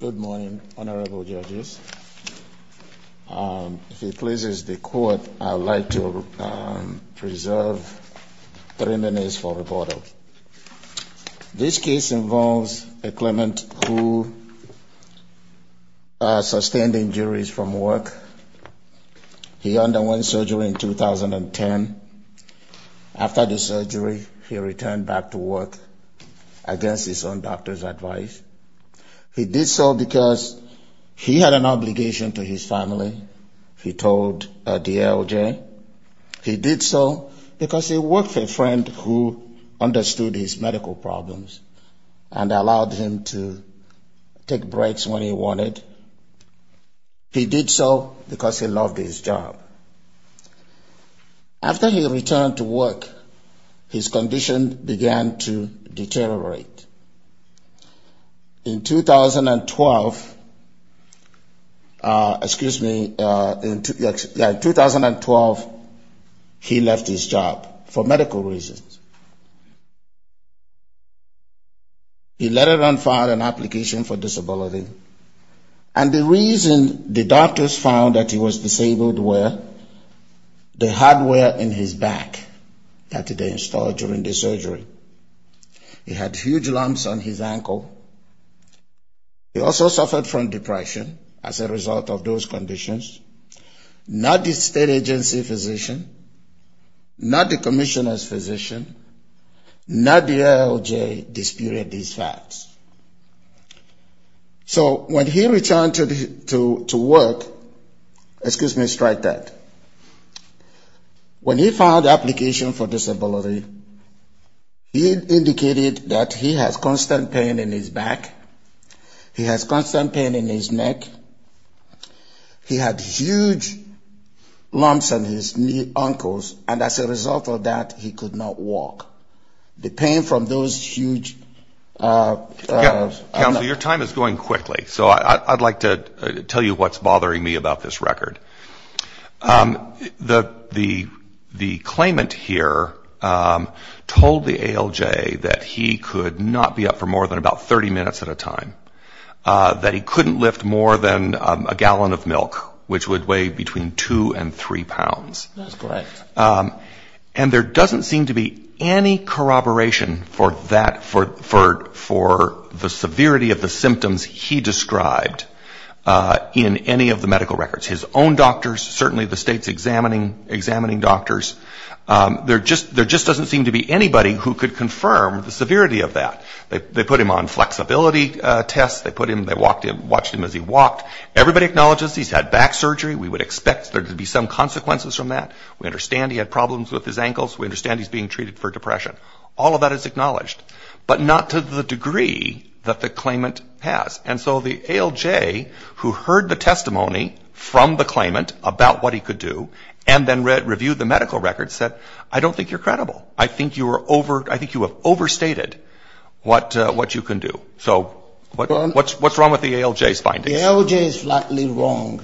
Good morning, honorable judges. If it pleases the court, I would like to preserve three minutes for reporting. This case involves a claimant who sustained injuries from work. He underwent surgery in 2010. After the surgery, he returned back to work against his own doctor's advice. He did so because he had an obligation to his family, he told DLJ. He did so because he worked for a friend who understood his medical problems and allowed him to take breaks when he wanted. He did so because he loved his job. After he returned to work, his condition began to deteriorate. In 2012, excuse me, in 2012, he left his job for medical reasons. He later on filed an application for disability, and the reason the doctors found that he was disabled were the hardware in his back that they installed during the surgery. He had huge lumps on his ankle. He also suffered from depression as a result of those conditions. Not the state agency physician, not the commissioner's physician, not DLJ disputed these facts. So when he returned to work, excuse me, strike that. When he filed the application for disability, he indicated that he has constant pain in his back. He has constant pain in his neck. He had huge lumps on his ankles, and as a result of that, he could not walk. The pain from those huge Counsel, your time is going quickly, so I'd like to tell you what's bothering me about this record. The claimant here told the ALJ that he could not be up for more than about 30 minutes at a time, that he couldn't lift more than a gallon of milk, which would weigh between two and three pounds. And there doesn't seem to be any corroboration for that, for the severity of the symptoms he described in any of the medical records. His own doctors, certainly the state's examining doctors, there just doesn't seem to be anybody who could confirm the severity of that. They put him on flexibility tests. They put him, they watched him as he walked. Everybody acknowledges he's had back surgery. We would expect there to be some consequences from that. We understand he had problems with his ankles. We understand he's being treated for depression. All of that is acknowledged, but not to the degree that the claimant has. And so the ALJ, who heard the testimony from the claimant about what he could do, and then reviewed the medical records, said, I don't think you're credible. I think you are over, I think you have overstated what you can do. So what's wrong with the ALJ's findings? The ALJ is flatly wrong,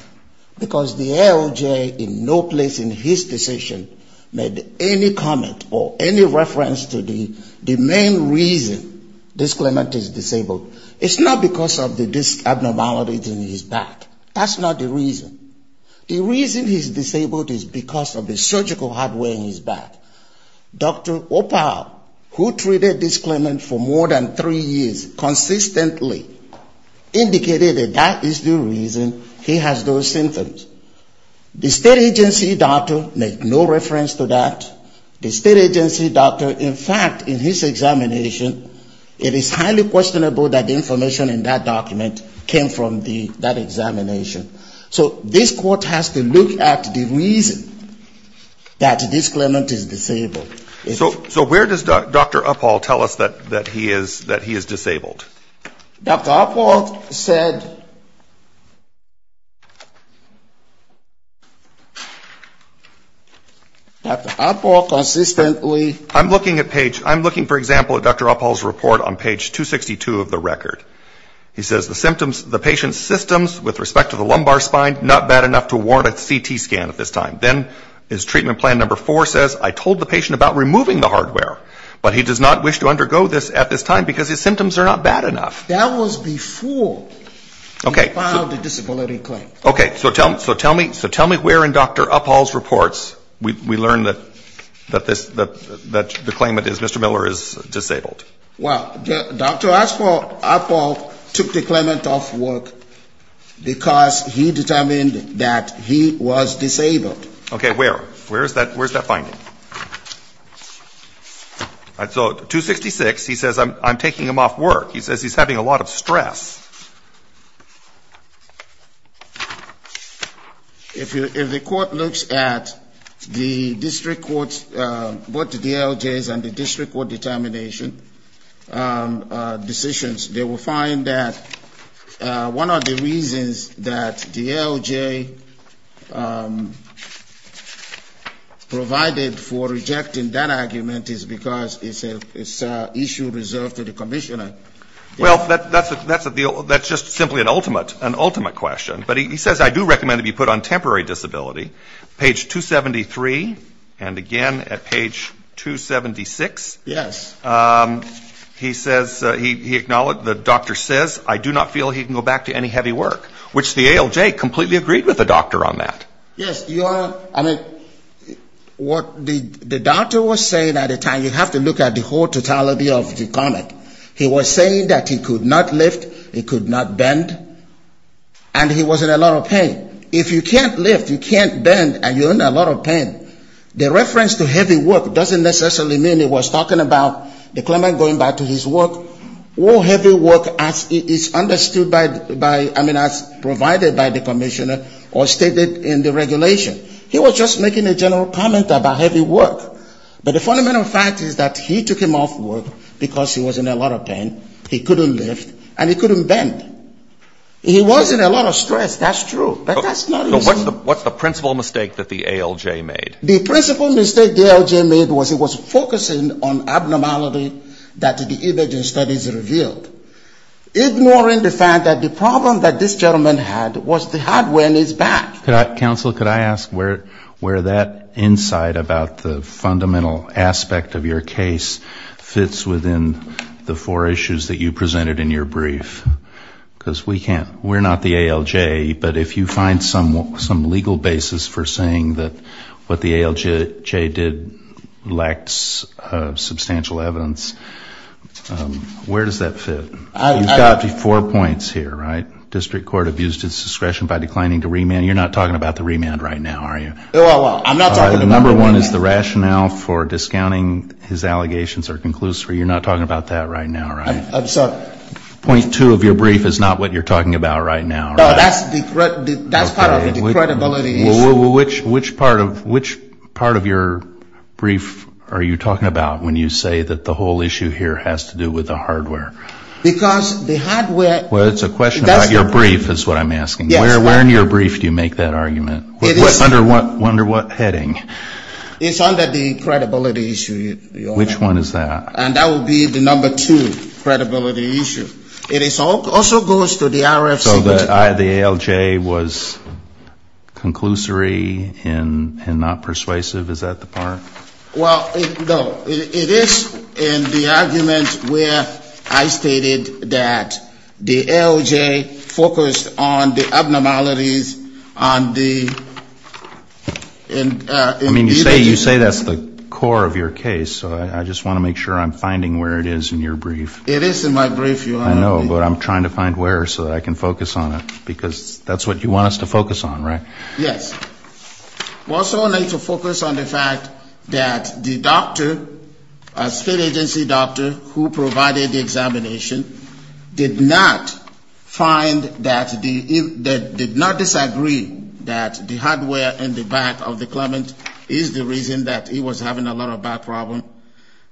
because the ALJ in no place in his decision made any comment or any reference to the main reason this claimant is disabled. It's not because of the abnormalities in his back. That's not the reason. The reason he's disabled is because of the surgical hardware in his back. Dr. Oppau, who treated this claimant for more than three years, consistently indicated that that is the reason he has those symptoms. The state agency doctor made no reference to that. The state agency doctor, in fact, in his examination, it is highly questionable that the information in that document came from that examination. So this court has to look at the reason that this claimant is disabled. So where does Dr. Oppau tell us that he is disabled? Dr. Oppau said, Dr. Oppau consistently I'm looking at page, I'm looking, for example, at Dr. Oppau's report on page 262 of the record. He says the symptoms, the patient's systems with respect to the lumbar spine, not bad enough to warrant a CT scan at this time. Then his treatment plan number four says, I told the patient about removing the hardware, but he does not wish to undergo this at this time, because his symptoms are not bad enough. That was before we filed the disability claim. Okay. So tell me where in Dr. Oppau's reports we learn that the claimant is, Mr. Miller, is disabled? Well, Dr. Oppau took the claimant off work because he determined that he was disabled. Okay. Where? Where is that finding? So 266, he says, I'm taking him off work. He says he's having a lot of stress. If the court looks at the district court's, both the DLJ's and the district court determination decisions, they will find that one of the reasons that DLJ provided the claimant with the disability claim is because the claimant is disabled. Well, that's a deal, that's just simply an ultimate, an ultimate question. But he says, I do recommend that he be put on temporary disability. Page 273, and again at page 276, he says, he acknowledged, the doctor says, I do not feel he can go back to any heavy work, which the ALJ completely agreed with the doctor on that. Yes, Your Honor, I mean, what the doctor was saying at the time, you have to look at the whole totality of the claimant. He was saying that he could not lift, he could not bend, and he was in a lot of pain. If you can't lift, you can't bend, and you're in a lot of pain, the reference to heavy work doesn't necessarily mean he was talking about the claimant going back to his work or heavy work as is understood by, I mean, as provided by the commissioner or stated in the regulation. He was just making a general comment about heavy work. But the fundamental fact is that he took him off work because he was in a lot of pain, he couldn't lift, and he couldn't bend. He was in a lot of stress, that's true. But that's not the reason. So what's the principal mistake that the ALJ made? The principal mistake the ALJ made was it was focusing on abnormality that the imaging studies revealed, ignoring the fact that the problem that this gentleman had was the hardware in his back. Counsel, could I ask where that insight about the fundamental aspect of your case fits within the four issues that you presented in your brief? Because we can't, we're not the ALJ, but if you find some legal basis for saying that what the ALJ did lacks substantial evidence, where does that fit? You've got four points here, right? You're not talking about the remand right now, are you? Well, I'm not talking about remand. Number one is the rationale for discounting his allegations are conclusive. You're not talking about that right now, right? I'm sorry? Point two of your brief is not what you're talking about right now, right? No, that's part of the credibility issue. Which part of your brief are you talking about when you say that the whole issue here has to do with the hardware? Well, it's a question about your brief is what I'm asking. Where in your brief do you make that argument? Under what heading? It's under the credibility issue. Which one is that? And that would be the number two credibility issue. It also goes to the RFC. So the ALJ was conclusory and not persuasive, is that the part? Well, no. It is in the argument where I stated that the ALJ focused on the abnormalities on the ______. I mean, you say that's the core of your case, so I just want to make sure I'm finding where it is in your brief. It is in my brief, Your Honor. I know, but I'm trying to find where so that I can focus on it, because that's what you want us to focus on, right? Yes. We also need to focus on the fact that the doctor, a state agency doctor who provided the examination, did not find that the did not disagree that the hardware in the back of the clement is the reason that he was having a lot of back problems.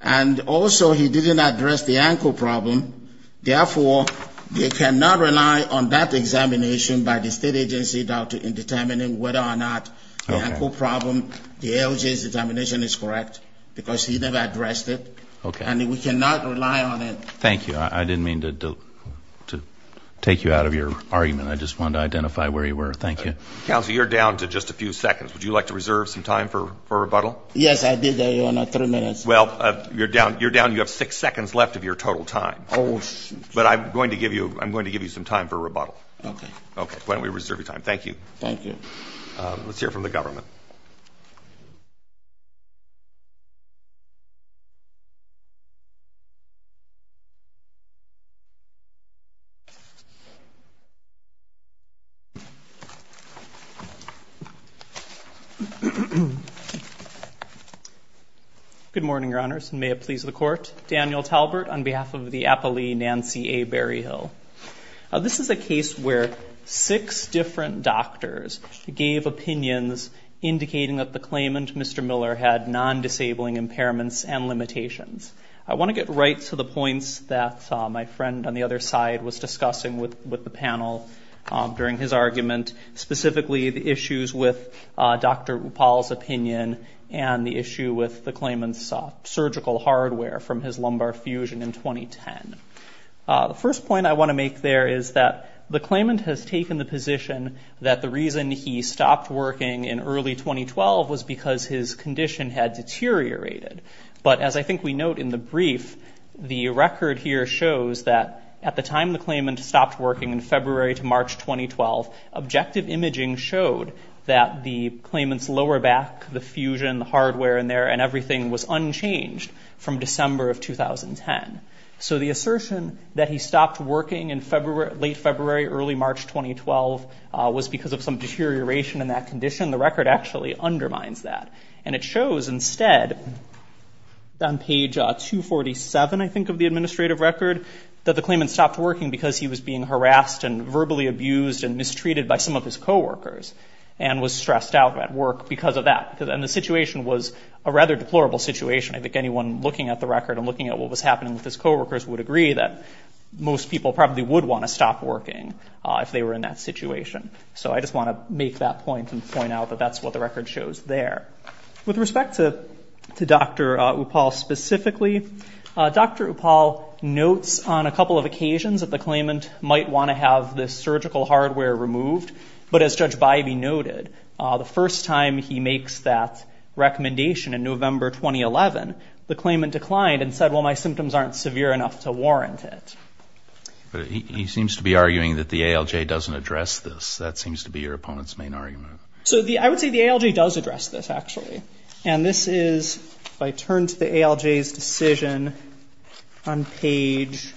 And also, he didn't address the ankle problem. Therefore, they cannot rely on that examination by the state agency doctor in determining whether or not the ankle problem, the ALJ's determination is correct, because he never addressed it. Okay. And we cannot rely on it. Thank you. I didn't mean to take you out of your argument. I just wanted to identify where you were. Thank you. Counsel, you're down to just a few seconds. Would you like to reserve some time for rebuttal? Yes, I did, Your Honor, three minutes. Well, you're down. You have six seconds left of your total time. Oh, shoot. But I'm going to give you some time for rebuttal. Okay. Okay. Why don't we reserve your time? Thank you. Thank you. Let's hear from the government. Good morning, Your Honors, and may it please the Court. Daniel Talbert on behalf of the APALE Nancy A. Berryhill. This is a case where six different doctors gave opinions indicating that the claimant, Mr. Miller, had non-disabling impairments and limitations. I want to get right to the points that my friend on the other side was discussing with the panel during his argument, specifically the issues with Dr. Upal's opinion and the issue with the claimant's surgical hardware from his lumbar fusion in 2010. The first point I want to make there is that the claimant has taken the position that the reason he stopped working in early 2012 was because his condition had deteriorated. But as I think we note in the brief, the record here shows that at the time the claimant stopped working in February to March 2012, objective imaging showed that the claimant's lower back, the fusion, the hardware in there, and everything was unchanged from December of 2010. So the assertion that he stopped working in late February, early March 2012 was because of some deterioration in that condition. The record actually undermines that. And it shows instead on page 247, I think, of the administrative record that the claimant stopped working because he was being harassed and verbally abused and mistreated by some of his coworkers and was stressed out at work because of that. And the situation was a rather deplorable situation. I think anyone looking at the record and looking at what was happening with his coworkers would agree that most people probably would want to stop working if they were in that situation. So I just want to make that point and point out that that's what the record shows there. With respect to Dr. Upal specifically, Dr. Upal notes on a couple of occasions that the claimant might want to have this surgical hardware removed. But as Judge Bybee noted, the first time he makes that recommendation in November 2011, the claimant declined and said, well, my symptoms aren't severe enough to warrant it. But he seems to be arguing that the ALJ doesn't address this. That seems to be your opponent's main argument. So I would say the ALJ does address this, actually. And this is, if I turn to the ALJ's decision on page...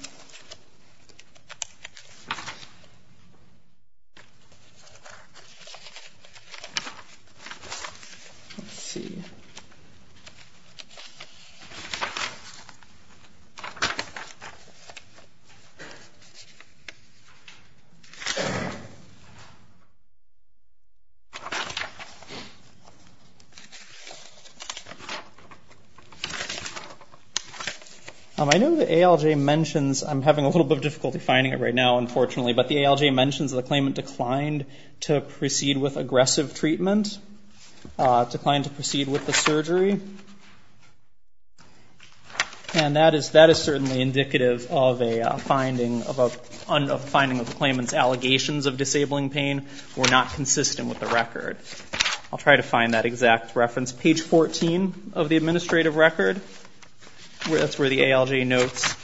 I know the ALJ mentions, I'm having a little bit of difficulty finding it right now, unfortunately, but the ALJ mentions that the claimant declined to proceed with aggressive treatment, declined to proceed with the surgery. And that is certainly indicative of a finding of the claimant's allegations of disabling pain were not consistent with the record. I'll try to find that exact reference. Page 14 of the administrative record, that's where the ALJ notes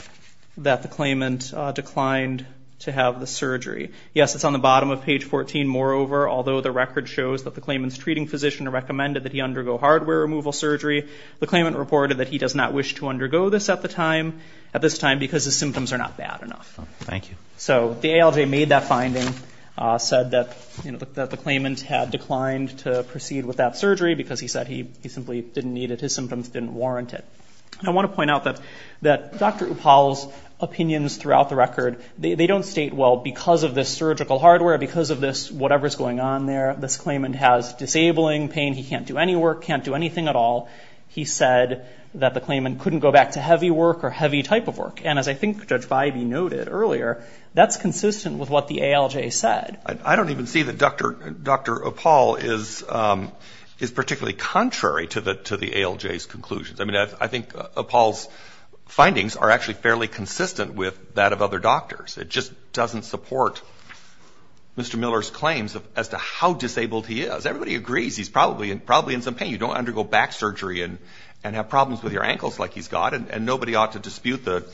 that the claimant declined to have the surgery. Yes, it's on the bottom of page 14. Moreover, although the record shows that the claimant's treating physician recommended that he undergo hardware removal surgery, the claimant reported that he does not wish to undergo this at this time because his symptoms are not bad enough. Thank you. So the ALJ made that finding, said that the claimant had declined to proceed with that surgery because he said he simply didn't need it. His symptoms didn't warrant it. And I want to point out that Dr. Upal's opinions throughout the record, they don't state, well, because of this surgical hardware, because of this whatever's going on there, this claimant has disabling pain. He can't do any work, can't do anything at all. He said that the claimant couldn't go back to heavy work or heavy type of work. And as I think Judge Bybee noted earlier, that's consistent with what the ALJ said. I don't even see that Dr. Upal is particularly contrary to the ALJ's conclusions. I mean, I think Upal's findings are actually fairly consistent with that of other doctors. It just doesn't support Mr. Miller's claims as to how disabled he is. Everybody agrees he's probably in some pain. You don't undergo back surgery and have problems with your ankles like he's got, and nobody ought to dispute the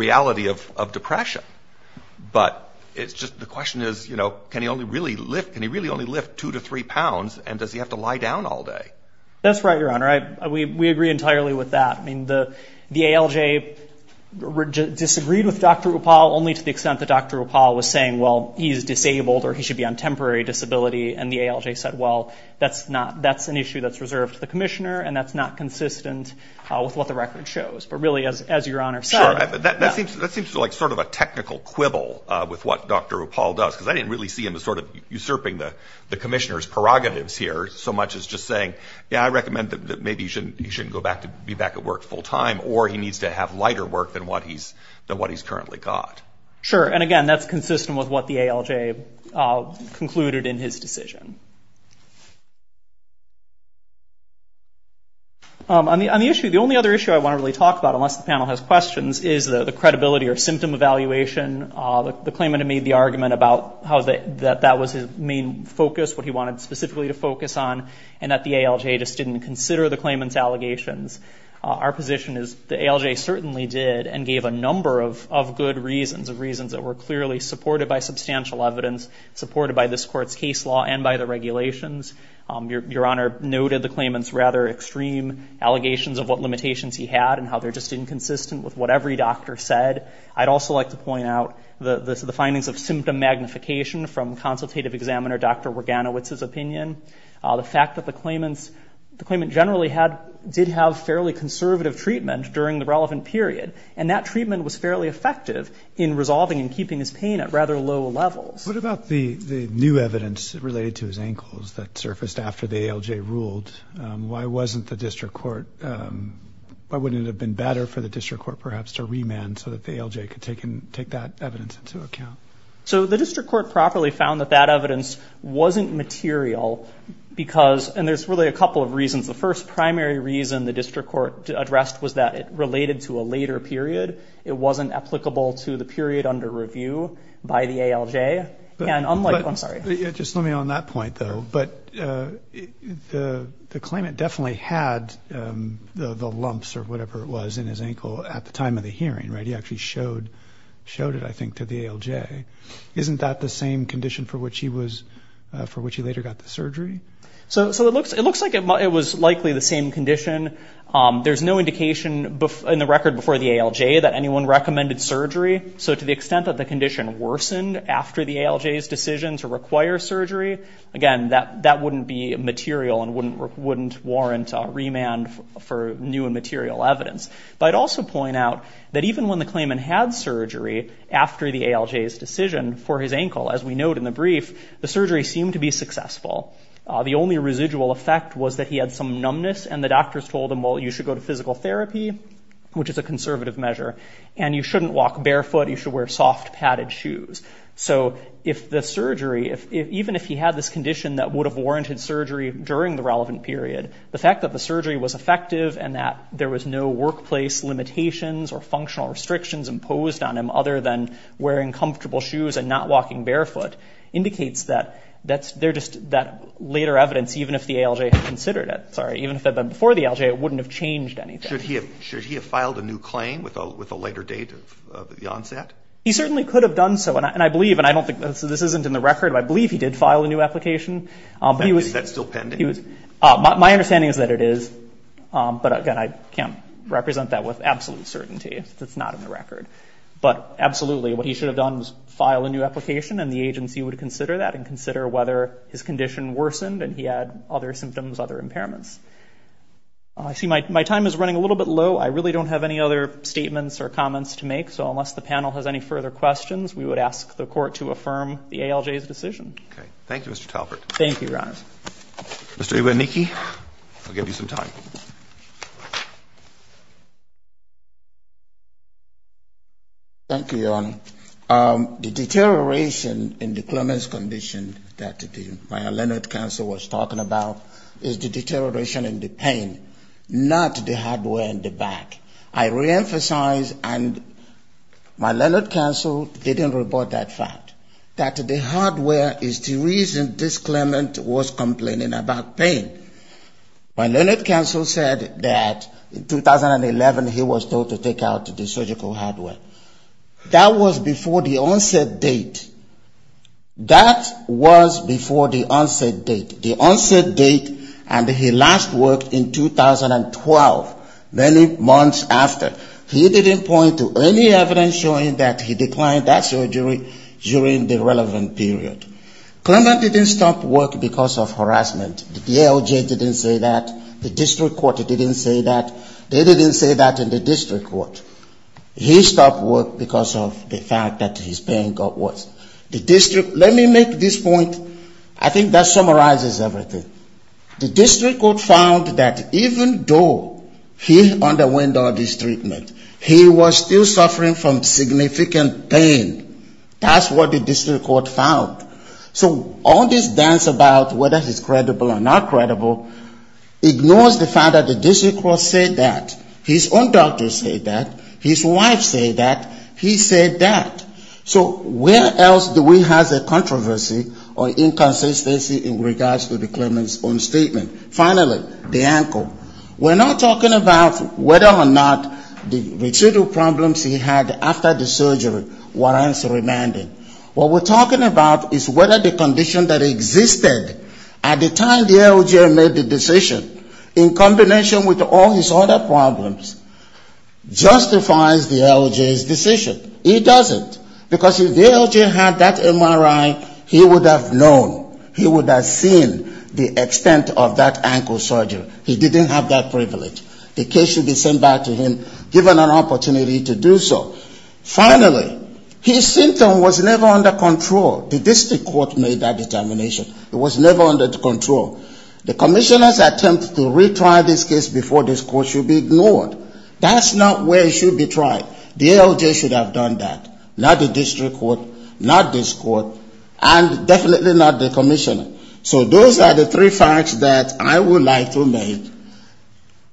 reality of depression. But it's just the question is, you know, can he really only lift two to three pounds and does he have to lie down all day? That's right, Your Honor. We agree entirely with that. I mean, the ALJ disagreed with Dr. Upal only to the extent that Dr. Upal was saying, well, he's disabled or he should be on temporary disability. And the ALJ said, well, that's an issue that's reserved to the commissioner, and that's not consistent with what the record shows. But really, as Your Honor said. That seems like sort of a technical quibble with what Dr. Upal does, because I didn't really see him as sort of usurping the commissioner's prerogatives here so much as just saying, yeah, I recommend that maybe he shouldn't go back to be back at work full time, or he needs to have lighter work than what he's currently got. Sure. And again, that's consistent with what the ALJ concluded in his decision. On the issue, the only other issue I want to really talk about, unless the panel has questions, is the credibility or symptom evaluation. The claimant had made the argument about how that was his main focus, what he wanted specifically to focus on, and that the ALJ just didn't consider the claimant's allegations. Our position is the ALJ certainly did and gave a number of good reasons, reasons that were clearly supported by substantial evidence, supported by this Court's case law and by the regulations. Your Honor noted the claimant's rather extreme allegations of what limitations he had and how they're just inconsistent with what every doctor said. I'd also like to point out the findings of symptom magnification from consultative examiner Dr. Waganowicz's opinion. The fact that the claimant generally did have fairly conservative treatment during the relevant period, and that treatment was fairly effective in resolving and keeping his pain at rather low levels. What about the new evidence related to his ankles that surfaced after the ALJ ruled? Why wasn't the district court, why wouldn't it have been better for the district court perhaps to remand so that the ALJ could take that evidence into account? So the district court properly found that that evidence wasn't material because, and there's really a couple of reasons. The first primary reason the district court addressed was that it related to a later period. It wasn't applicable to the period under review by the ALJ. And unlike, I'm sorry. Just let me on that point though. But the claimant definitely had the lumps or whatever it was in his ankle at the time of the hearing, right? He actually showed it, I think, to the ALJ. Isn't that the same condition for which he later got the surgery? So it looks like it was likely the same condition. There's no indication in the record before the ALJ that anyone recommended surgery. So to the extent that the condition worsened after the ALJ's decision to require surgery, again, that wouldn't be material and wouldn't warrant remand for new and material evidence. But I'd also point out that even when the claimant had surgery after the ALJ's decision for his ankle, as we note in the brief, the surgery seemed to be successful. The only residual effect was that he had some numbness, and the doctors told him, well, you should go to physical therapy, which is a conservative measure, and you shouldn't walk barefoot. You should wear soft padded shoes. So if the surgery, even if he had this condition that would have warranted surgery during the relevant period, the fact that the surgery was effective and that there was no workplace limitations or functional restrictions imposed on him other than wearing comfortable shoes and not walking barefoot, indicates that they're just that later evidence, even if the ALJ had considered it. Sorry, even if it had been before the ALJ, it wouldn't have changed anything. Should he have filed a new claim with a later date of the onset? He certainly could have done so, and I believe, and I don't think this isn't in the record, but I believe he did file a new application. Is that still pending? My understanding is that it is, but, again, I can't represent that with absolute certainty. It's not in the record. But absolutely, what he should have done was file a new application, and the agency would consider that and consider whether his condition worsened and he had other symptoms, other impairments. I see my time is running a little bit low. I really don't have any other statements or comments to make, so unless the panel has any further questions, we would ask the Court to affirm the ALJ's decision. Okay. Thank you, Mr. Talbert. Thank you, Ron. Mr. Iwanicki, I'll give you some time. Thank you, Your Honor. The deterioration in the Clemens condition that my Leonard counsel was talking about is the deterioration in the pain, not the hardware in the back. I reemphasize, and my Leonard counsel didn't report that fact, that the hardware is the reason this Clement was complaining about pain. My Leonard counsel said that in 2011 he was told to take out the surgical hardware. That was before the onset date. That was before the onset date. The onset date, and he last worked in 2012, many months after. He didn't point to any evidence showing that he declined that surgery during the relevant period. Clement didn't stop work because of harassment. The ALJ didn't say that. The district court didn't say that. They didn't say that in the district court. He stopped work because of the fact that his pain got worse. The district, let me make this point. I think that summarizes everything. The district court found that even though he underwent all this treatment, he was still suffering from significant pain. That's what the district court found. So all this dance about whether he's credible or not credible ignores the fact that the district court said that. His own doctors said that. His wife said that. He said that. So where else do we have a controversy or inconsistency in regards to the Clements' own statement? Finally, the ankle. We're not talking about whether or not the residual problems he had after the surgery were answered remanded. What we're talking about is whether the condition that existed at the time the ALJ made the decision, in combination with all his other problems, justifies the ALJ's decision. He doesn't, because if the ALJ had that MRI, he would have known. He would have seen the extent of that ankle surgery. He didn't have that privilege. The case should be sent back to him, given an opportunity to do so. Finally, his symptom was never under control. The district court made that determination. It was never under control. The commissioner's attempt to retry this case before this court should be ignored. That's not where it should be tried. The ALJ should have done that. Not the district court, not this court, and definitely not the commissioner. So those are the three facts that I would like to make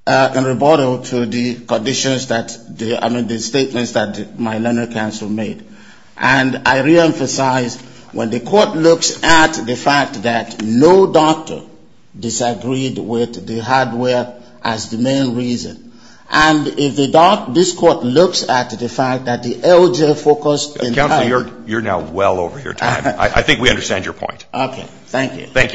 in rebuttal to the conditions that, I mean, the statements that my learner counsel made. And I reemphasize, when the court looks at the fact that no doctor disagreed with the hardware as the main reason, and if the court looks at the fact that the ALJ focused entirely on the hardware. Thank you very much.